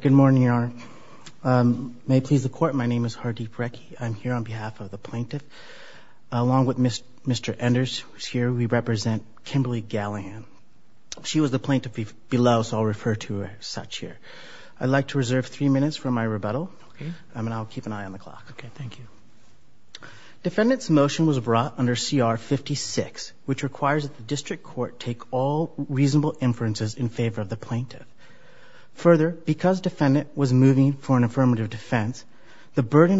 Good morning, Your Honor. May it please the Court, my name is Hardeep Rekhi. I'm here on behalf of the plaintiff. Along with Mr. Enders, who is here, we represent Kimberly Gallahan. She was the plaintiff below, so I'll refer to her as such here. I'd like to reserve three minutes for my rebuttal. Okay. And I'll keep an eye on the clock. Okay. Thank you. Defendant's motion was brought under CR 56, which requires that the District Court take all reasonable inferences in favor of the plaintiff. Further, because defendant was moving for an affirmative defense, the burden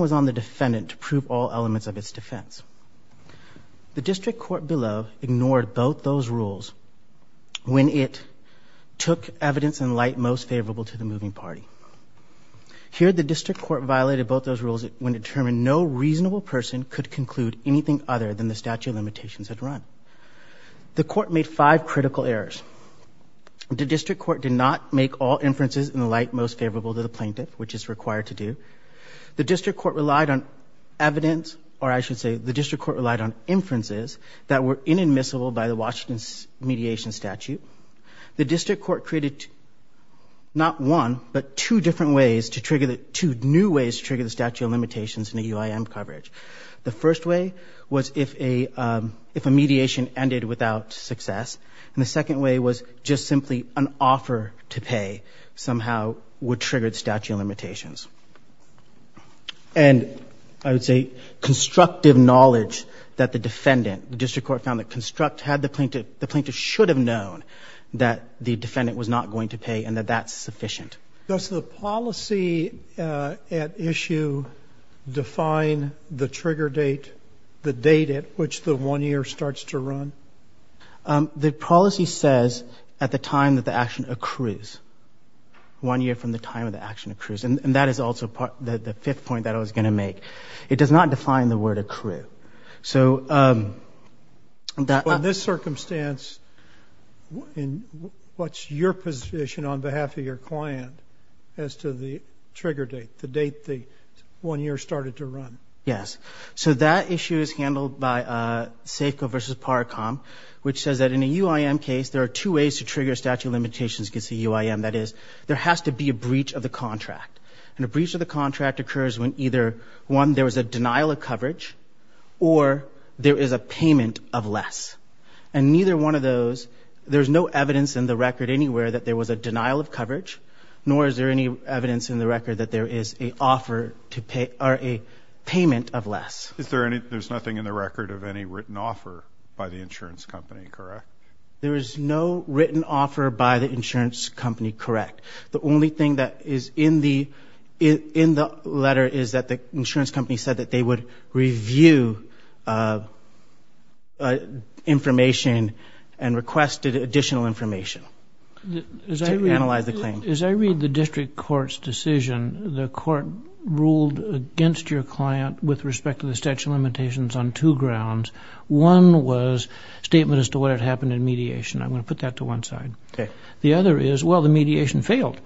was on the defendant to prove all elements of its defense. The District Court below ignored both those rules when it took evidence in light most favorable to the moving party. Here the District Court violated both those rules when it determined no reasonable person could conclude anything other than the statute of limitations had run. The Court made five critical errors. The District Court did not make all inferences in the light most favorable to the plaintiff, which is required to do. The District Court relied on evidence, or I should say, the District Court relied on inferences that were inadmissible by the Washington mediation statute. The District Court created not one, but two different ways to trigger the—two new ways to trigger the statute of limitations in the UIM coverage. The first way was if a mediation ended without success. And the second way was just simply an offer to pay somehow would trigger the statute of limitations. And I would say constructive knowledge that the defendant, the District Court found that construct had the plaintiff, the plaintiff should have known that the defendant was not going to pay and that that's sufficient. Does the policy at issue define the trigger date, the date at which the one year starts to run? The policy says at the time that the action accrues, one year from the time that the action accrues. And that is also the fifth point that I was going to make. It does not define the word accrue. So in this circumstance, what's your position on behalf of your client as to the trigger date, the date the one year started to run? Yes. So that issue is handled by Safeco versus Paracom, which says that in a UIM case, there are two ways to trigger statute of limitations against the UIM. That is, there has to be a breach of the contract. And a breach of the contract occurs when either one, there was a denial of coverage or there is a payment of less. And neither one of those, there's no evidence in the record anywhere that there was a denial of coverage, nor is there any evidence in the record that there is a offer to pay or a payment of less. Is there any, there's nothing in the record of any written offer by the insurance company, correct? There is no written offer by the insurance company, correct. The only thing that is in the letter is that the insurance company said that they would review information and requested additional information to analyze the claim. As I read the district court's decision, the court ruled against your client with respect to the statute of limitations on two grounds. One was statement as to what had happened in mediation. I'm going to put that to one side. The other is, well, the mediation failed.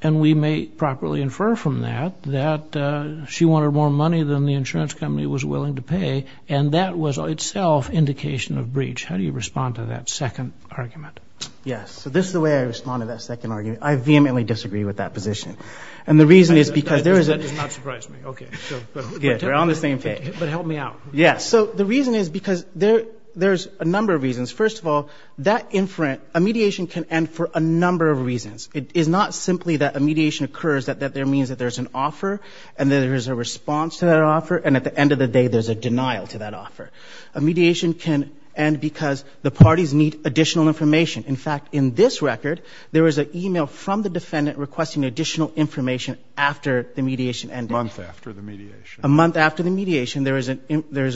And we may properly infer from that that she wanted more money than the insurance company was willing to pay. And that was itself indication of breach. How do you respond to that second argument? Yes. So this is the way I respond to that second argument. I vehemently disagree with that position. And the reason is because there is a... That does not surprise me. Okay. Good. But help me out. Yes. So the reason is because there's a number of reasons. First of all, that inference... A mediation can end for a number of reasons. It is not simply that a mediation occurs, that there means that there's an offer, and that there's a response to that offer, and at the end of the day, there's a denial to that offer. A mediation can end because the parties need additional information. In fact, in this record, there was an email from the defendant requesting additional information after the mediation ended. A month after the mediation. A month after the mediation, there is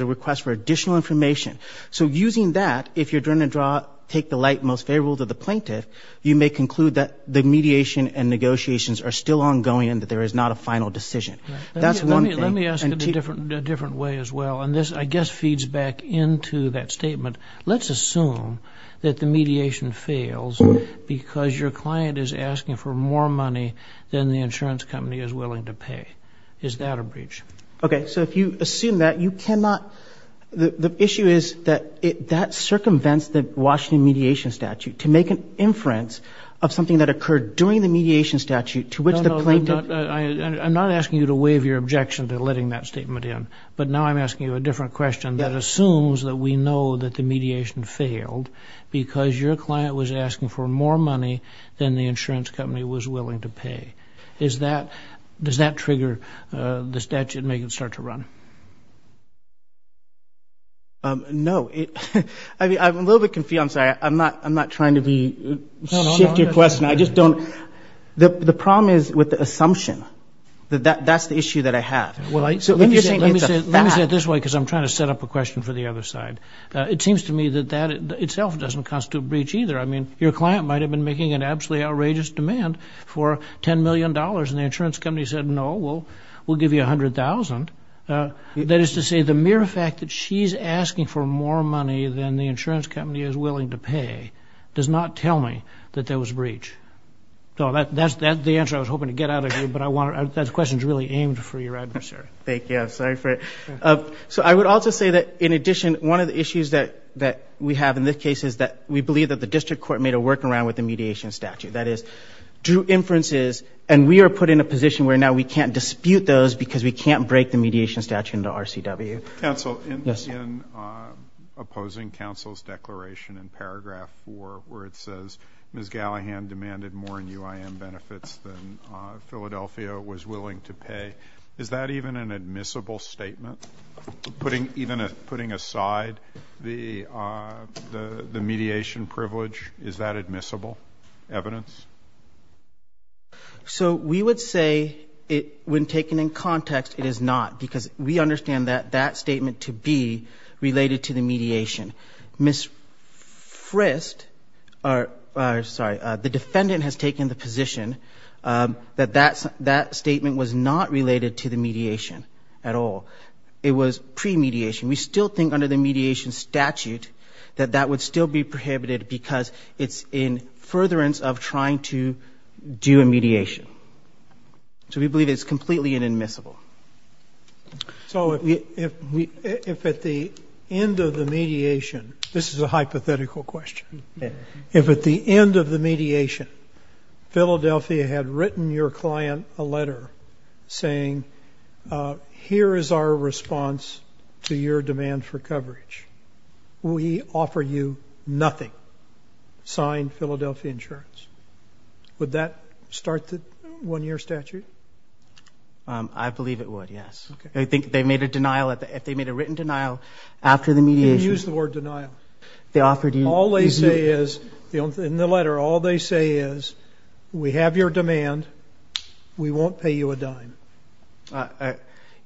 a request for additional information. So using that, if you're going to draw... Take the light most favorable to the plaintiff, you may conclude that the mediation and negotiations are still ongoing and that there is not a final decision. That's one thing. Let me ask it a different way as well, and this, I guess, feeds back into that statement. Let's assume that the mediation fails because your client is asking for more money than the insurance company is willing to pay. Is that a breach? Okay. So if you assume that, you cannot... The issue is that that circumvents the Washington mediation statute. To make an inference of something that occurred during the mediation statute to which the plaintiff... No, no. I'm not asking you to waive your objection to letting that statement in, but now I'm asking you a different question that assumes that we know that the mediation failed because that... Does that trigger the statute and make it start to run? No. I mean, I'm a little bit confused. I'm sorry. I'm not trying to be... No, no, no.... shift your question. I just don't... The problem is with the assumption that that's the issue that I have. Well, I... So let me say it this way because I'm trying to set up a question for the other side. It seems to me that that itself doesn't constitute a breach either. I mean, your client might have been making an absolutely outrageous demand for $10 million and the insurance company said, no, we'll give you $100,000. That is to say, the mere fact that she's asking for more money than the insurance company is willing to pay does not tell me that there was a breach. So that's the answer I was hoping to get out of you, but I want... That question's really aimed for your adversary. Thank you. I'm sorry for it. So I would also say that, in addition, one of the issues that we have in this case is that we believe that the district court made a workaround with the mediation statute. That is, drew inferences and we are put in a position where now we can't dispute those because we can't break the mediation statute into RCW. Counsel, in opposing counsel's declaration in paragraph four where it says Ms. Gallahan demanded more in UIM benefits than Philadelphia was willing to pay, is that even an admissible statement? Even putting aside the mediation privilege, is that admissible evidence? So we would say, when taken in context, it is not because we understand that that statement to be related to the mediation. Ms. Frist, sorry, the defendant has taken the position that that statement was not related to the mediation at all. It was pre-mediation. We still think, under the mediation statute, that that would still be prohibited because it's in furtherance of trying to do a mediation. So we believe it's completely inadmissible. So if at the end of the mediation, this is a hypothetical question, if at the end of the mediation, Philadelphia had written your client a letter saying, here is our response to your demand for coverage. We offer you nothing, signed Philadelphia Insurance. Would that start the one-year statute? I believe it would, yes. Okay. I think they made a denial, if they made a written denial after the mediation. You can use the word denial. They offered you. All they say is, in the letter, all they say is, we have your demand. We won't pay you a dime.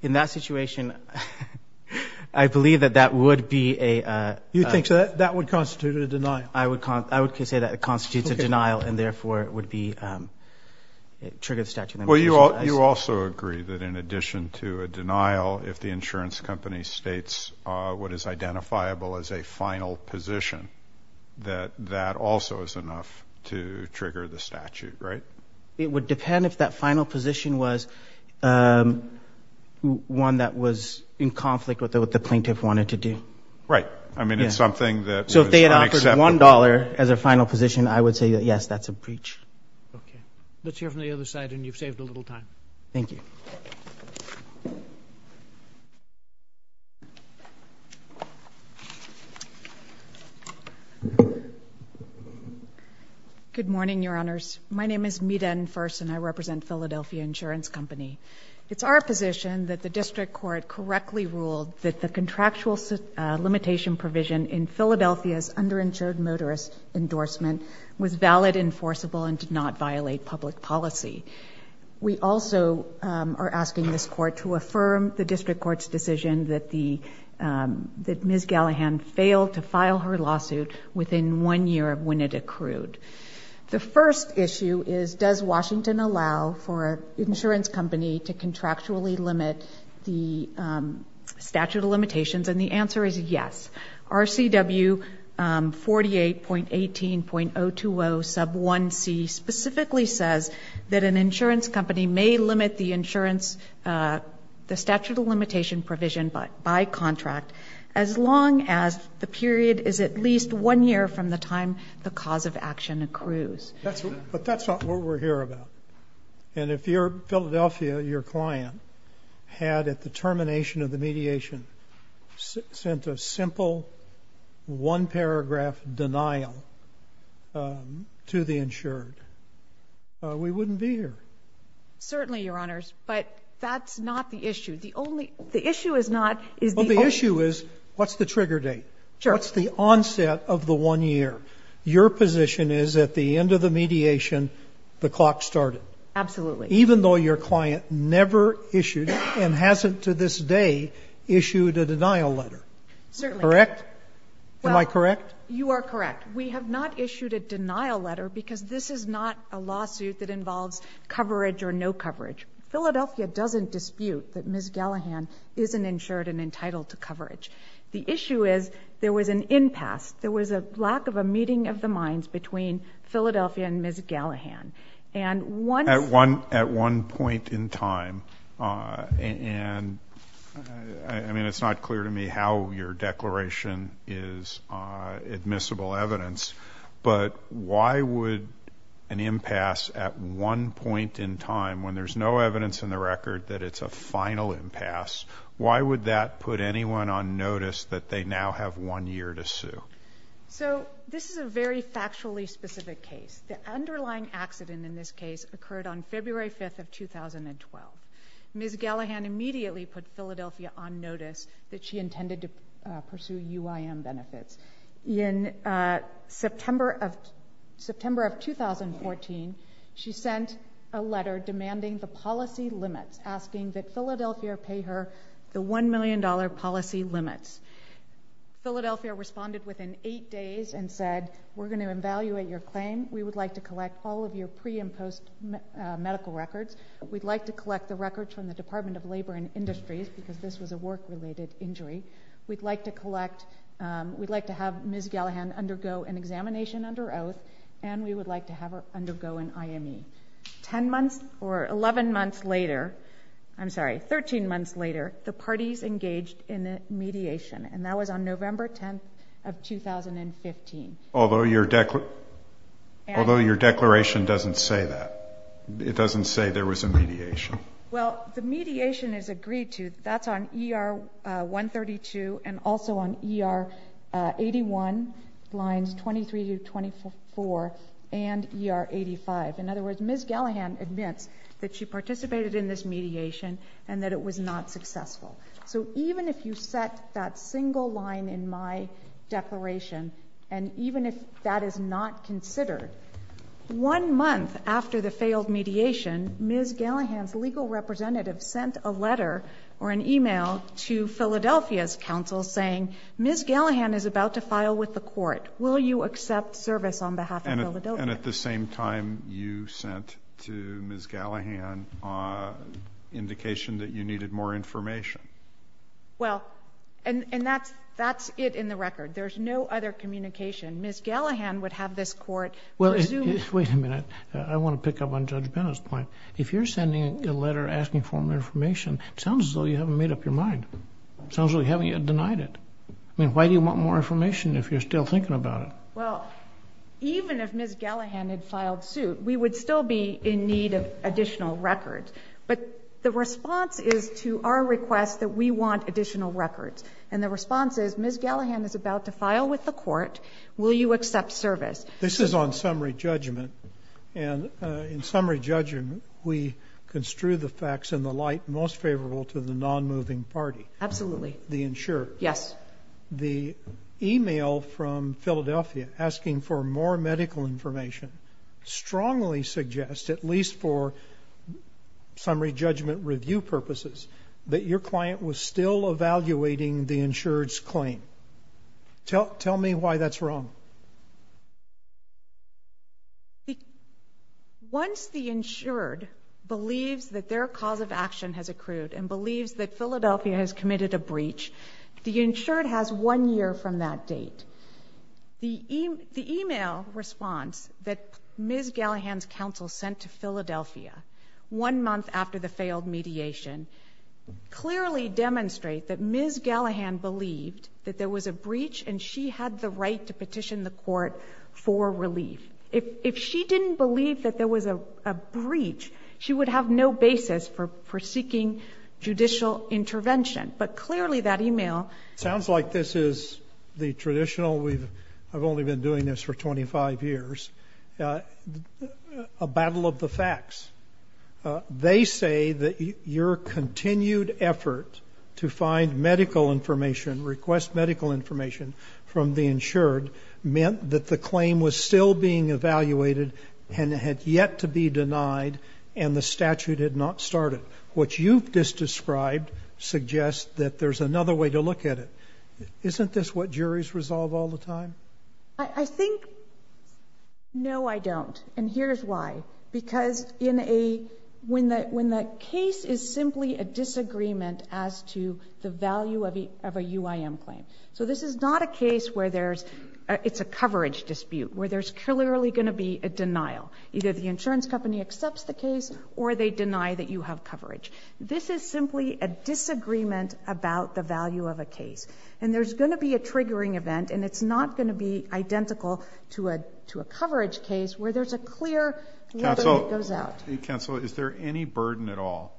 In that situation, I believe that that would be a... You think that would constitute a denial? I would say that it constitutes a denial, and therefore, it would trigger the statute of limitations. Well, you also agree that in addition to a denial, if the insurance company states what is identifiable as a final position, that that also is enough to trigger the statute, right? It would depend if that final position was one that was in conflict with what the plaintiff wanted to do. Right. I mean, it's something that was unacceptable. So if they had offered $1 as a final position, I would say that, yes, that's a breach. Okay. Let's hear from the other side, and you've saved a little time. Thank you. Good morning, Your Honors. My name is Meeden Furst, and I represent Philadelphia Insurance Company. It's our position that the district court correctly ruled that the contractual limitation provision in Philadelphia's underinsured motorist endorsement was valid, enforceable, and did not violate public policy. We also are asking this court to affirm the district court's decision that Ms. Gallaghan failed to file her lawsuit within one year of when it accrued. The first issue is, does Washington allow for an insurance company to contractually limit the statute of limitations? And the answer is yes. RCW 48.18.020 sub 1c specifically says that an insurance company may limit the insurance – the statute of limitation provision by contract as long as the period is at least one year from the time the cause of action accrues. But that's not what we're here about. And if you're Philadelphia, your client had at the termination of the mediation sent a simple one-paragraph denial to the insured, we wouldn't be here. Certainly, Your Honors. But that's not the issue. The only – the issue is not – is the only – Well, the issue is, what's the trigger date? Sure. What's the onset of the one year? Your position is, at the end of the mediation, the clock started. Absolutely. Even though your client never issued, and hasn't to this day, issued a denial letter. Certainly. Correct? Am I correct? You are correct. We have not issued a denial letter because this is not a lawsuit that involves coverage or no coverage. Philadelphia doesn't dispute that Ms. Gallaghan isn't insured and entitled to coverage. The issue is, there was an impasse. There was a lack of a meeting of the minds between Philadelphia and Ms. Gallaghan. And once – At one point in time, and – I mean, it's not clear to me how your declaration is admissible evidence, but why would an impasse at one point in time, when there's no evidence in the record that it's a final impasse, why would that put anyone on notice that they now have one year to sue? So this is a very factually specific case. The underlying accident in this case occurred on February 5th of 2012. Ms. Gallaghan immediately put Philadelphia on notice that she intended to pursue UIM benefits. In September of 2014, she sent a letter demanding the policy limits, asking that Philadelphia pay her the $1 million policy limits. Philadelphia responded within eight days and said, we're going to evaluate your claim. We would like to collect all of your pre- and post-medical records. We'd like to collect the records from the Department of Labor and Industries, because this was a work-related injury. We'd like to collect – we'd like to have Ms. Gallaghan undergo an examination under oath, and we would like to have her undergo an IME. Ten months or 11 months later – I'm sorry, 13 months later, the parties engaged in a mediation, and that was on November 10th of 2015. Although your declaration doesn't say that. It doesn't say there was a mediation. Well, the mediation is agreed to. That's on ER 132 and also on ER 81, lines 23 to 24, and ER 85. In other words, Ms. Gallaghan admits that she participated in this mediation and that it was not successful. So even if you set that single line in my declaration, and even if that is not considered, one month after the failed mediation, Ms. Gallaghan's legal representative sent a letter or an email to Philadelphia's counsel saying, Ms. Gallaghan is about to file with the court. Will you accept service on behalf of Philadelphia? And at the same time, you sent to Ms. Gallaghan an indication that you needed more information. Well, and that's it in the record. There's no other communication. Ms. Gallaghan would have this court presume – Wait a minute. I want to pick up on Judge Bennett's point. If you're sending a letter asking for more information, it sounds as though you haven't made up your mind. It sounds as though you haven't yet denied it. I mean, why do you want more information if you're still thinking about it? Well, even if Ms. Gallaghan had filed suit, we would still be in need of additional records. But the response is to our request that we want additional records. And the response is, Ms. Gallaghan is about to file with the court. Will you accept service? This is on summary judgment. And in summary judgment, we construe the facts in the light most favorable to the non-moving party. Absolutely. The insurer. Yes. But the email from Philadelphia asking for more medical information strongly suggests, at least for summary judgment review purposes, that your client was still evaluating the insured's claim. Tell me why that's wrong. Once the insured believes that their cause of action has accrued and believes that Philadelphia has committed a breach, the insured has one year from that date. The email response that Ms. Gallaghan's counsel sent to Philadelphia one month after the failed mediation clearly demonstrate that Ms. Gallaghan believed that there was a breach and she had the right to petition the court for relief. If she didn't believe that there was a breach, she would have no basis for seeking judicial intervention. But clearly that email... Sounds like this is the traditional, I've only been doing this for 25 years, a battle of the facts. They say that your continued effort to find medical information, request medical information from the insured meant that the claim was still being evaluated and had yet to be denied and the statute had not started. What you've just described suggests that there's another way to look at it. Isn't this what juries resolve all the time? I think, no I don't and here's why. Because when the case is simply a disagreement as to the value of a UIM claim. So this is not a case where it's a coverage dispute, where there's clearly going to be a denial. Either the insurance company accepts the case or they deny that you have coverage. This is simply a disagreement about the value of a case. And there's going to be a triggering event and it's not going to be identical to a coverage case where there's a clear letter that goes out. Counsel, is there any burden at all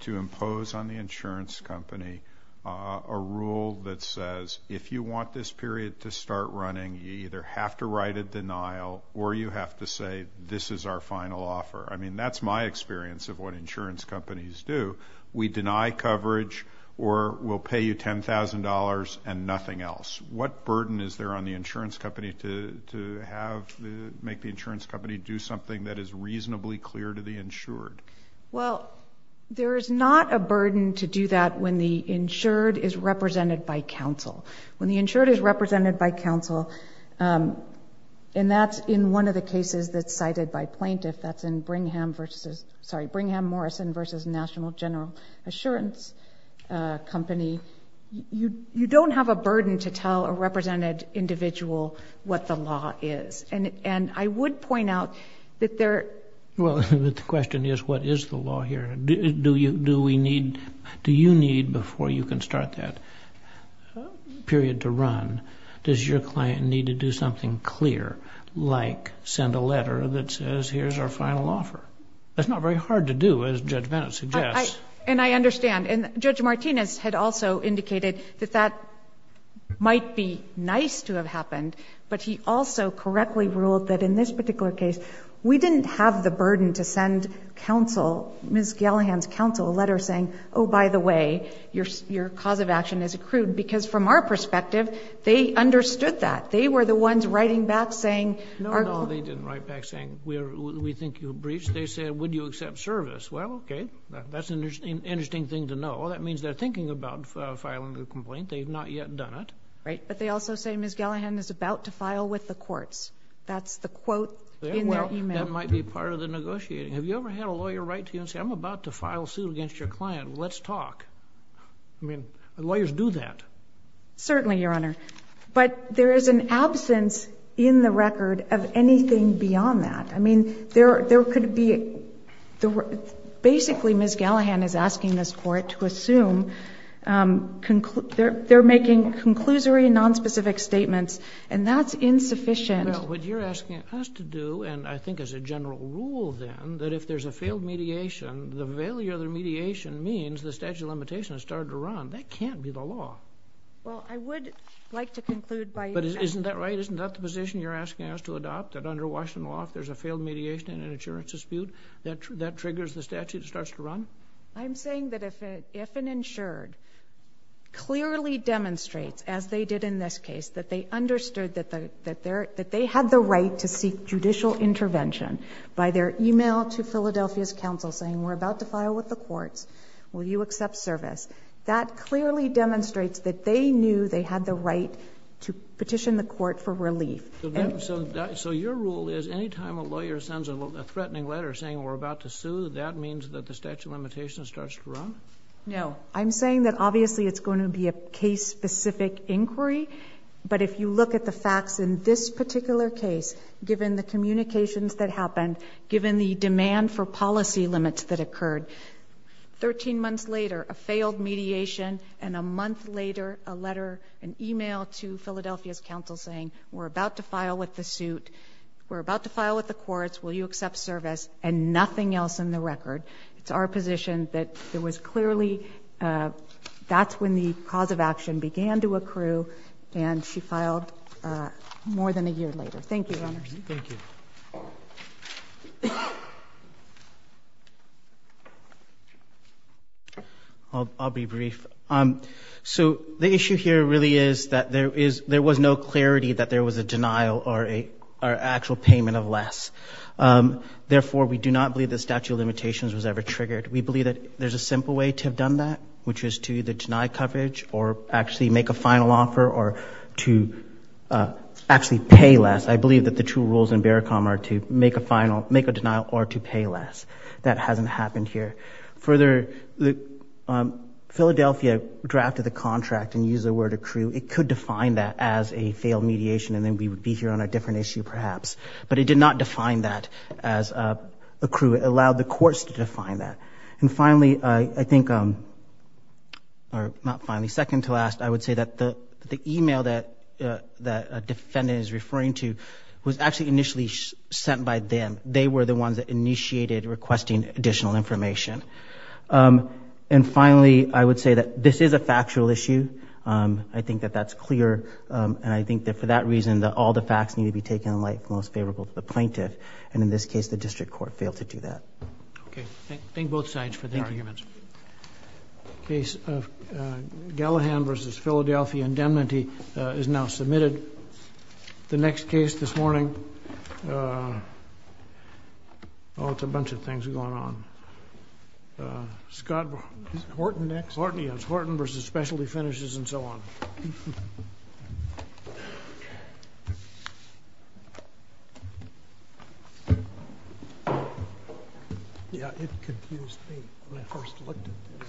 to impose on the insurance company a rule that says if you want this period to start running, you either have to write a denial or you have to say this is our final offer. I mean, that's my experience of what insurance companies do. We deny coverage or we'll pay you $10,000 and nothing else. What burden is there on the insurance company to make the insurance company do something that is reasonably clear to the insured? Well, there is not a burden to do that when the insured is represented by counsel. When the insured is represented by counsel, and that's in one of the cases that's cited by plaintiff, that's in Brigham vs., sorry, Brigham Morrison vs. National General Assurance Company, you don't have a burden to tell a represented individual what the law is. And I would point out that there... Well, the question is, what is the law here? Do you need, before you can start that period to run, does your client need to do something clear like send a letter that says here's our final offer? That's not very hard to do as Judge Bennett suggests. And I understand. And Judge Martinez had also indicated that that might be nice to have happened, but he also correctly ruled that in this particular case, we didn't have the burden to send counsel, Ms. Gellaghan's counsel, a letter saying, oh, by the way, your cause of action is accrued. Because from our perspective, they understood that. They were the ones writing back saying... No, no, they didn't write back saying, we think you've breached. They said, would you accept service? Well, okay. That's an interesting thing to know. Well, that means they're thinking about filing a complaint. They've not yet done it. Right. But they also say Ms. Gellaghan is about to file with the courts. That's the quote in their e-mail. Yeah, well, that might be part of the negotiating. Have you ever had a lawyer write to you and say, I'm about to file a suit against your client. Let's talk. I mean, lawyers do that. Certainly, Your Honor. But there is an absence in the record of anything beyond that. I mean, there could be... basically, Ms. Gellaghan is asking this court to assume they're making conclusory, nonspecific statements, and that's insufficient. Well, what you're asking us to do, and I think as a general rule, then, that if there's a failed mediation, the failure of the mediation means the statute of limitations has started to run. That can't be the law. Well, I would like to conclude by... But isn't that right? Isn't that the position you're asking us to adopt, that under Washington law, if there's a failed mediation in an insurance dispute, that triggers the statute and starts to run? I'm saying that if an insured clearly demonstrates, as they did in this case, that they understood that they had the right to seek judicial intervention by their email to Philadelphia's counsel saying, we're about to file with the courts, will you accept service? That clearly demonstrates that they knew they had the right to petition the court for relief. So your rule is, any time a lawyer sends a threatening letter saying, we're about to sue, that means that the statute of limitations starts to run? No. I'm saying that, obviously, it's going to be a case-specific inquiry, but if you look at the facts in this particular case, given the communications that happened, given the demand for policy limits that occurred, 13 months later, a failed mediation, and a month later, a letter, an email to Philadelphia's counsel saying, we're about to file with the suit, we're about to file with the courts, will you accept service, and nothing else in the record. It's our position that there was clearly... That's when the cause of action began to more than a year later. Thank you, Your Honor. Thank you. I'll be brief. So the issue here really is that there was no clarity that there was a denial or actual payment of less. Therefore, we do not believe the statute of limitations was ever triggered. We believe that there's a simple way to have done that, which is to either deny coverage or actually make a final offer or to actually pay less. I believe that the two rules in Barricom are to make a denial or to pay less. That hasn't happened here. Further, Philadelphia drafted the contract and used the word accrue. It could define that as a failed mediation, and then we would be here on a different issue, perhaps. But it did not define that as accrue. It allowed the courts to define that. And finally, I think... Or not finally, second to last, I would say that the email that a defendant is referring to was actually initially sent by them. They were the ones that initiated requesting additional information. And finally, I would say that this is a factual issue. I think that that's clear, and I think that for that reason, that all the facts need to be taken in light from those favorable to the plaintiff, and in this case, the district court failed to do that. Okay. Thank you. Thank you both sides for the arguments. The case of Gallagher v. Philadelphia indemnity is now submitted. The next case this morning... Oh, it's a bunch of things going on. Scott... Is Horton next? Horton, yes. Horton v. Specialty Finishes and so on. Yeah, it confused me when I first looked at this.